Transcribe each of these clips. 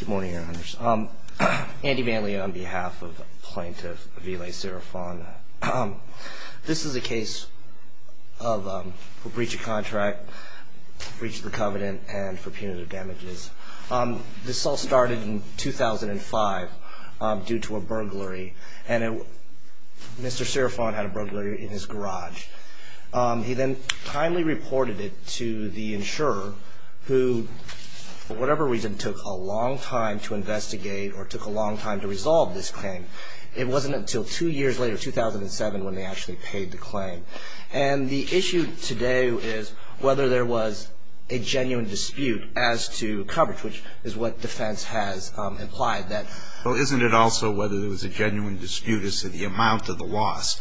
Good morning, Your Honors. Andy Manley on behalf of Plaintiff Velay Siriphone. This is a case for breach of contract, breach of the covenant, and for punitive damages. This all started in 2005 due to a burglary, and Mr. Siriphone had a burglary in his garage. He then kindly reported it to the insurer who, for whatever reason, took a long time to investigate or took a long time to resolve this claim. It wasn't until two years later, 2007, when they actually paid the claim. And the issue today is whether there was a genuine dispute as to coverage, which is what defense has implied. Well, isn't it also whether there was a genuine dispute as to the amount of the loss,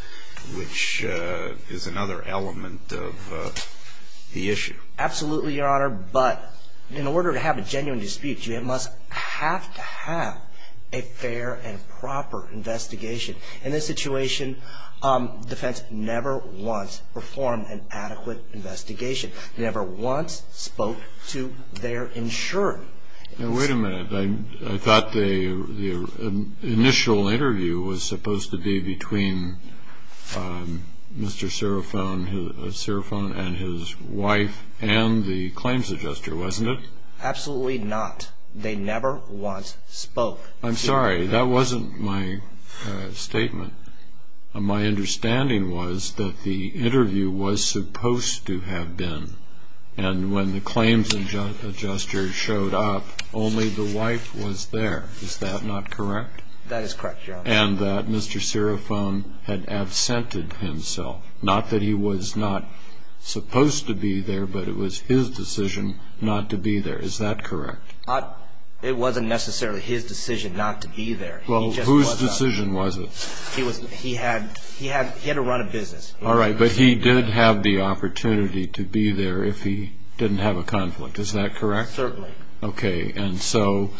which is another element of the issue? Absolutely, Your Honor, but in order to have a genuine dispute, you must have to have a fair and proper investigation. In this situation, defense never once performed an adequate investigation, never once spoke to their insurer. Now, wait a minute. I thought the initial interview was supposed to be between Mr. Siriphone and his wife and the claims adjuster, wasn't it? Absolutely not. They never once spoke. I'm sorry. That wasn't my statement. My understanding was that the interview was supposed to have been, and when the claims adjuster showed up, only the wife was there. Is that not correct? That is correct, Your Honor. And that Mr. Siriphone had absented himself. Not that he was not supposed to be there, but it was his decision not to be there. Is that correct? It wasn't necessarily his decision not to be there. Well, whose decision was it? He had to run a business. All right, but he did have the opportunity to be there if he didn't have a conflict. Is that correct? Certainly. Okay, and so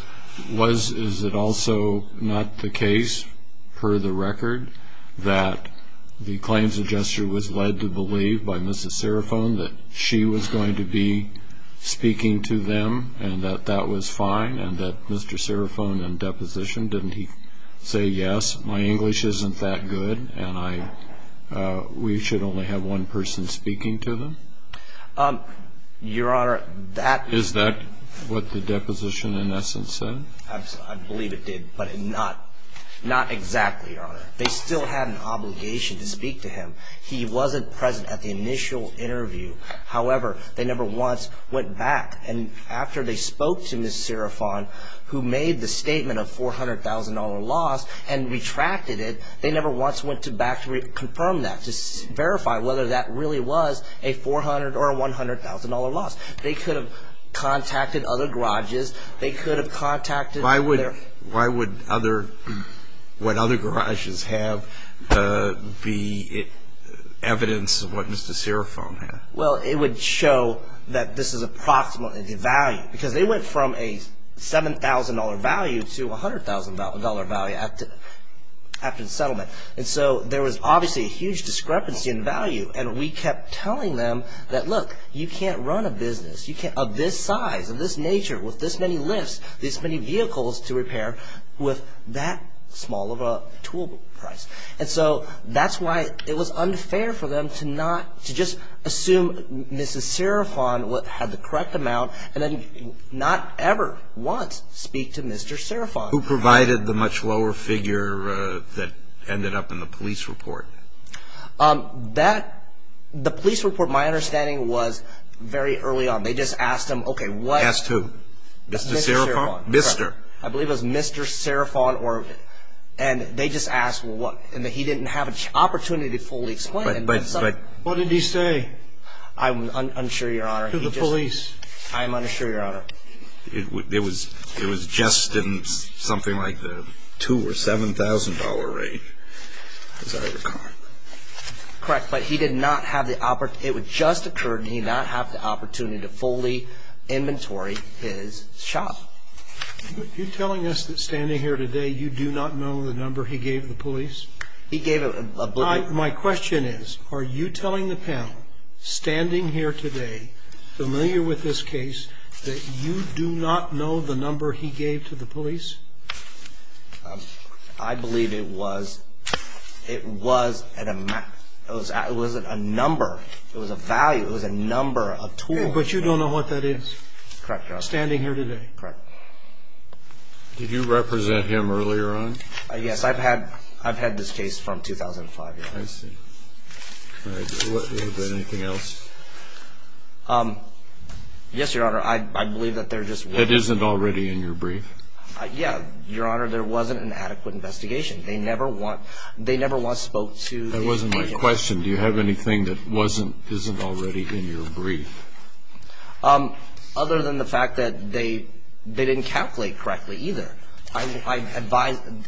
is it also not the case, per the record, that the claims adjuster was led to believe by Mrs. Siriphone that she was going to be speaking to them and that that was fine, and that Mr. Siriphone in deposition, didn't he say, yes, my English isn't that good, and we should only have one person speaking to them? Your Honor, that Is that what the deposition in essence said? I believe it did, but not exactly, Your Honor. They still had an obligation to speak to him. He wasn't present at the initial interview. However, they never once went back, and after they spoke to Mrs. Siriphone, who made the statement of $400,000 loss and retracted it, they never once went back to confirm that, to verify whether that really was a $400,000 or a $100,000 loss. They could have contacted other garages. They could have contacted Why would what other garages have be evidence of what Mr. Siriphone had? Well, it would show that this is approximately the value, because they went from a $7,000 value to a $100,000 value after the settlement. And so there was obviously a huge discrepancy in value, and we kept telling them that, look, you can't run a business of this size, of this nature, with this many lifts, this many vehicles to repair, with that small of a tool price. And so that's why it was unfair for them to just assume Mrs. Siriphone had the correct amount, and then not ever once speak to Mr. Siriphone. Who provided the much lower figure that ended up in the police report? The police report, my understanding, was very early on. They just asked him, okay, what Asked who? Mr. Siriphone Mr. I believe it was Mr. Siriphone, and they just asked what, and he didn't have an opportunity to fully explain it. What did he say? To the police? I'm unsure, Your Honor. It was just in something like the $2,000 or $7,000 range, as I recall. Correct, but he did not have the opportunity, it had just occurred, and he did not have the opportunity to fully inventory his shop. You're telling us that standing here today, you do not know the number he gave the police? He gave them a blueprint. My question is, are you telling the panel, standing here today, familiar with this case, that you do not know the number he gave to the police? I believe it was, it was an amount, it was a number, it was a value, it was a number, a tool. But you don't know what that is? Correct, Your Honor. Standing here today? Correct. Did you represent him earlier on? Yes, I've had this case from 2005, Your Honor. I see. Anything else? Yes, Your Honor, I believe that there just wasn't... It isn't already in your brief? Yeah, Your Honor, there wasn't an adequate investigation. They never once spoke to... That wasn't my question. Do you have anything that wasn't, isn't already in your brief? Other than the fact that they didn't calculate correctly either.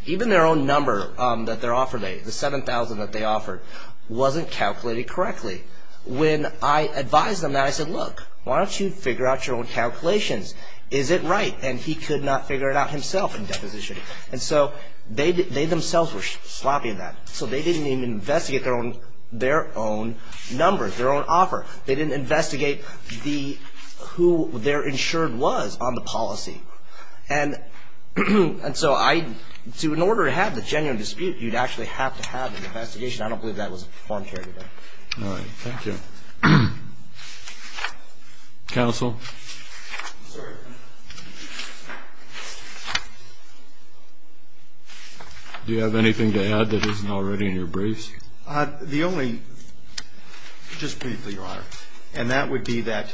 Even their own number that they're offering, the $7,000 that they offered, wasn't calculated correctly. When I advised them that, I said, look, why don't you figure out your own calculations? Is it right? And he could not figure it out himself in deposition. And so they themselves were sloppy in that. So they didn't even investigate their own numbers, their own offer. They didn't investigate who their insured was on the policy. And so I... In order to have the genuine dispute, you'd actually have to have an investigation. I don't believe that was the form today. All right. Thank you. Counsel? Sir? Do you have anything to add that isn't already in your briefs? The only... Just briefly, Your Honor. And that would be that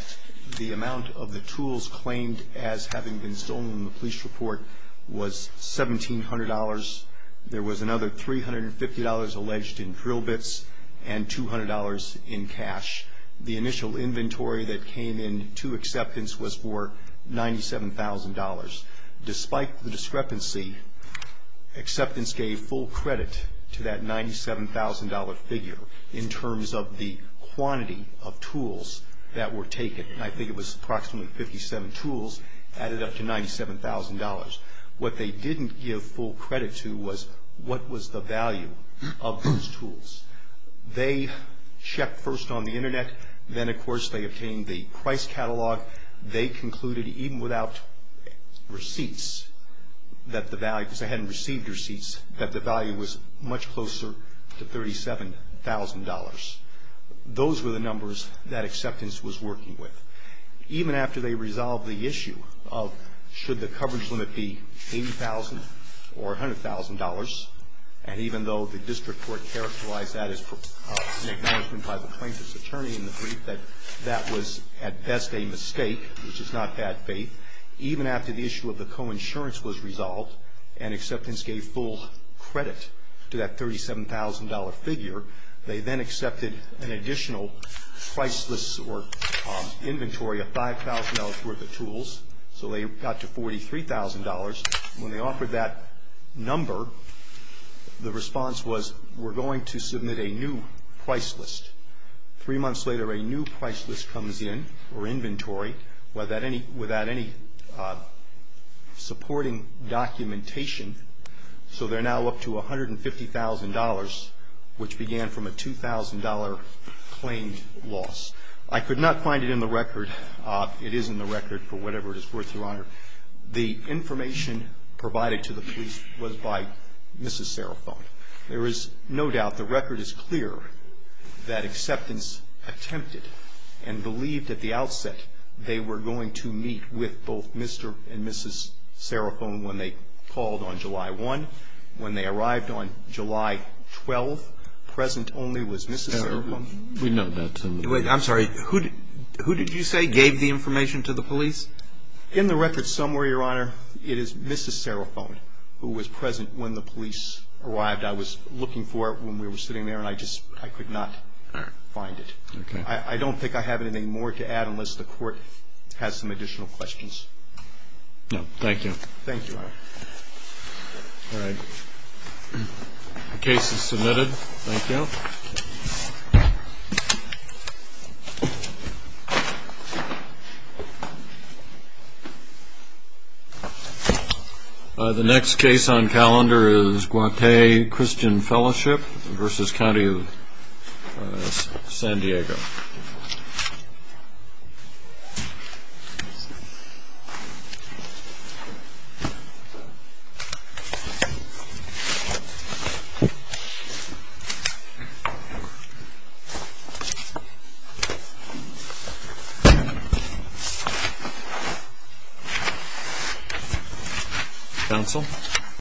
the amount of the tools claimed as having been stolen in the police report was $1,700. There was another $350 alleged in drill bits and $200 in cash. The initial inventory that came in to acceptance was for $97,000. Despite the discrepancy, acceptance gave full credit to that $97,000 figure in terms of the quantity of tools that were taken. And I think it was approximately 57 tools added up to $97,000. What they didn't give full credit to was what was the value of those tools. They checked first on the Internet. Then, of course, they obtained the price catalog. They concluded even without receipts that the value, because they hadn't received receipts, that the value was much closer to $37,000. Those were the numbers that acceptance was working with. Even after they resolved the issue of should the coverage limit be $80,000 or $100,000, and even though the district court characterized that as an acknowledgment by the plaintiff's attorney in the brief, that that was at best a mistake, which is not bad faith. Even after the issue of the coinsurance was resolved and acceptance gave full credit to that $37,000 figure, they then accepted an additional priceless or inventory of $5,000 worth of tools. So they got to $43,000. When they offered that number, the response was, we're going to submit a new priceless. Three months later, a new priceless comes in, or inventory, without any supporting documentation. So they're now up to $150,000, which began from a $2,000 claimed loss. I could not find it in the record. It is in the record for whatever it is worth, Your Honor. The information provided to the police was by Mrs. Serafone. There is no doubt, the record is clear that acceptance attempted and believed at the outset they were going to meet with both Mr. and Mrs. Serafone when they called on July 1. When they arrived on July 12, present only was Mrs. Serafone. We know that. I'm sorry. Who did you say gave the information to the police? In the record somewhere, Your Honor, it is Mrs. Serafone who was present when the police arrived. I was looking for it when we were sitting there, and I just could not find it. I don't think I have anything more to add unless the court has some additional questions. No. Thank you. Thank you, Your Honor. All right. The case is submitted. Thank you. The next case on calendar is Guate Christian Fellowship v. County of San Diego. Pencil.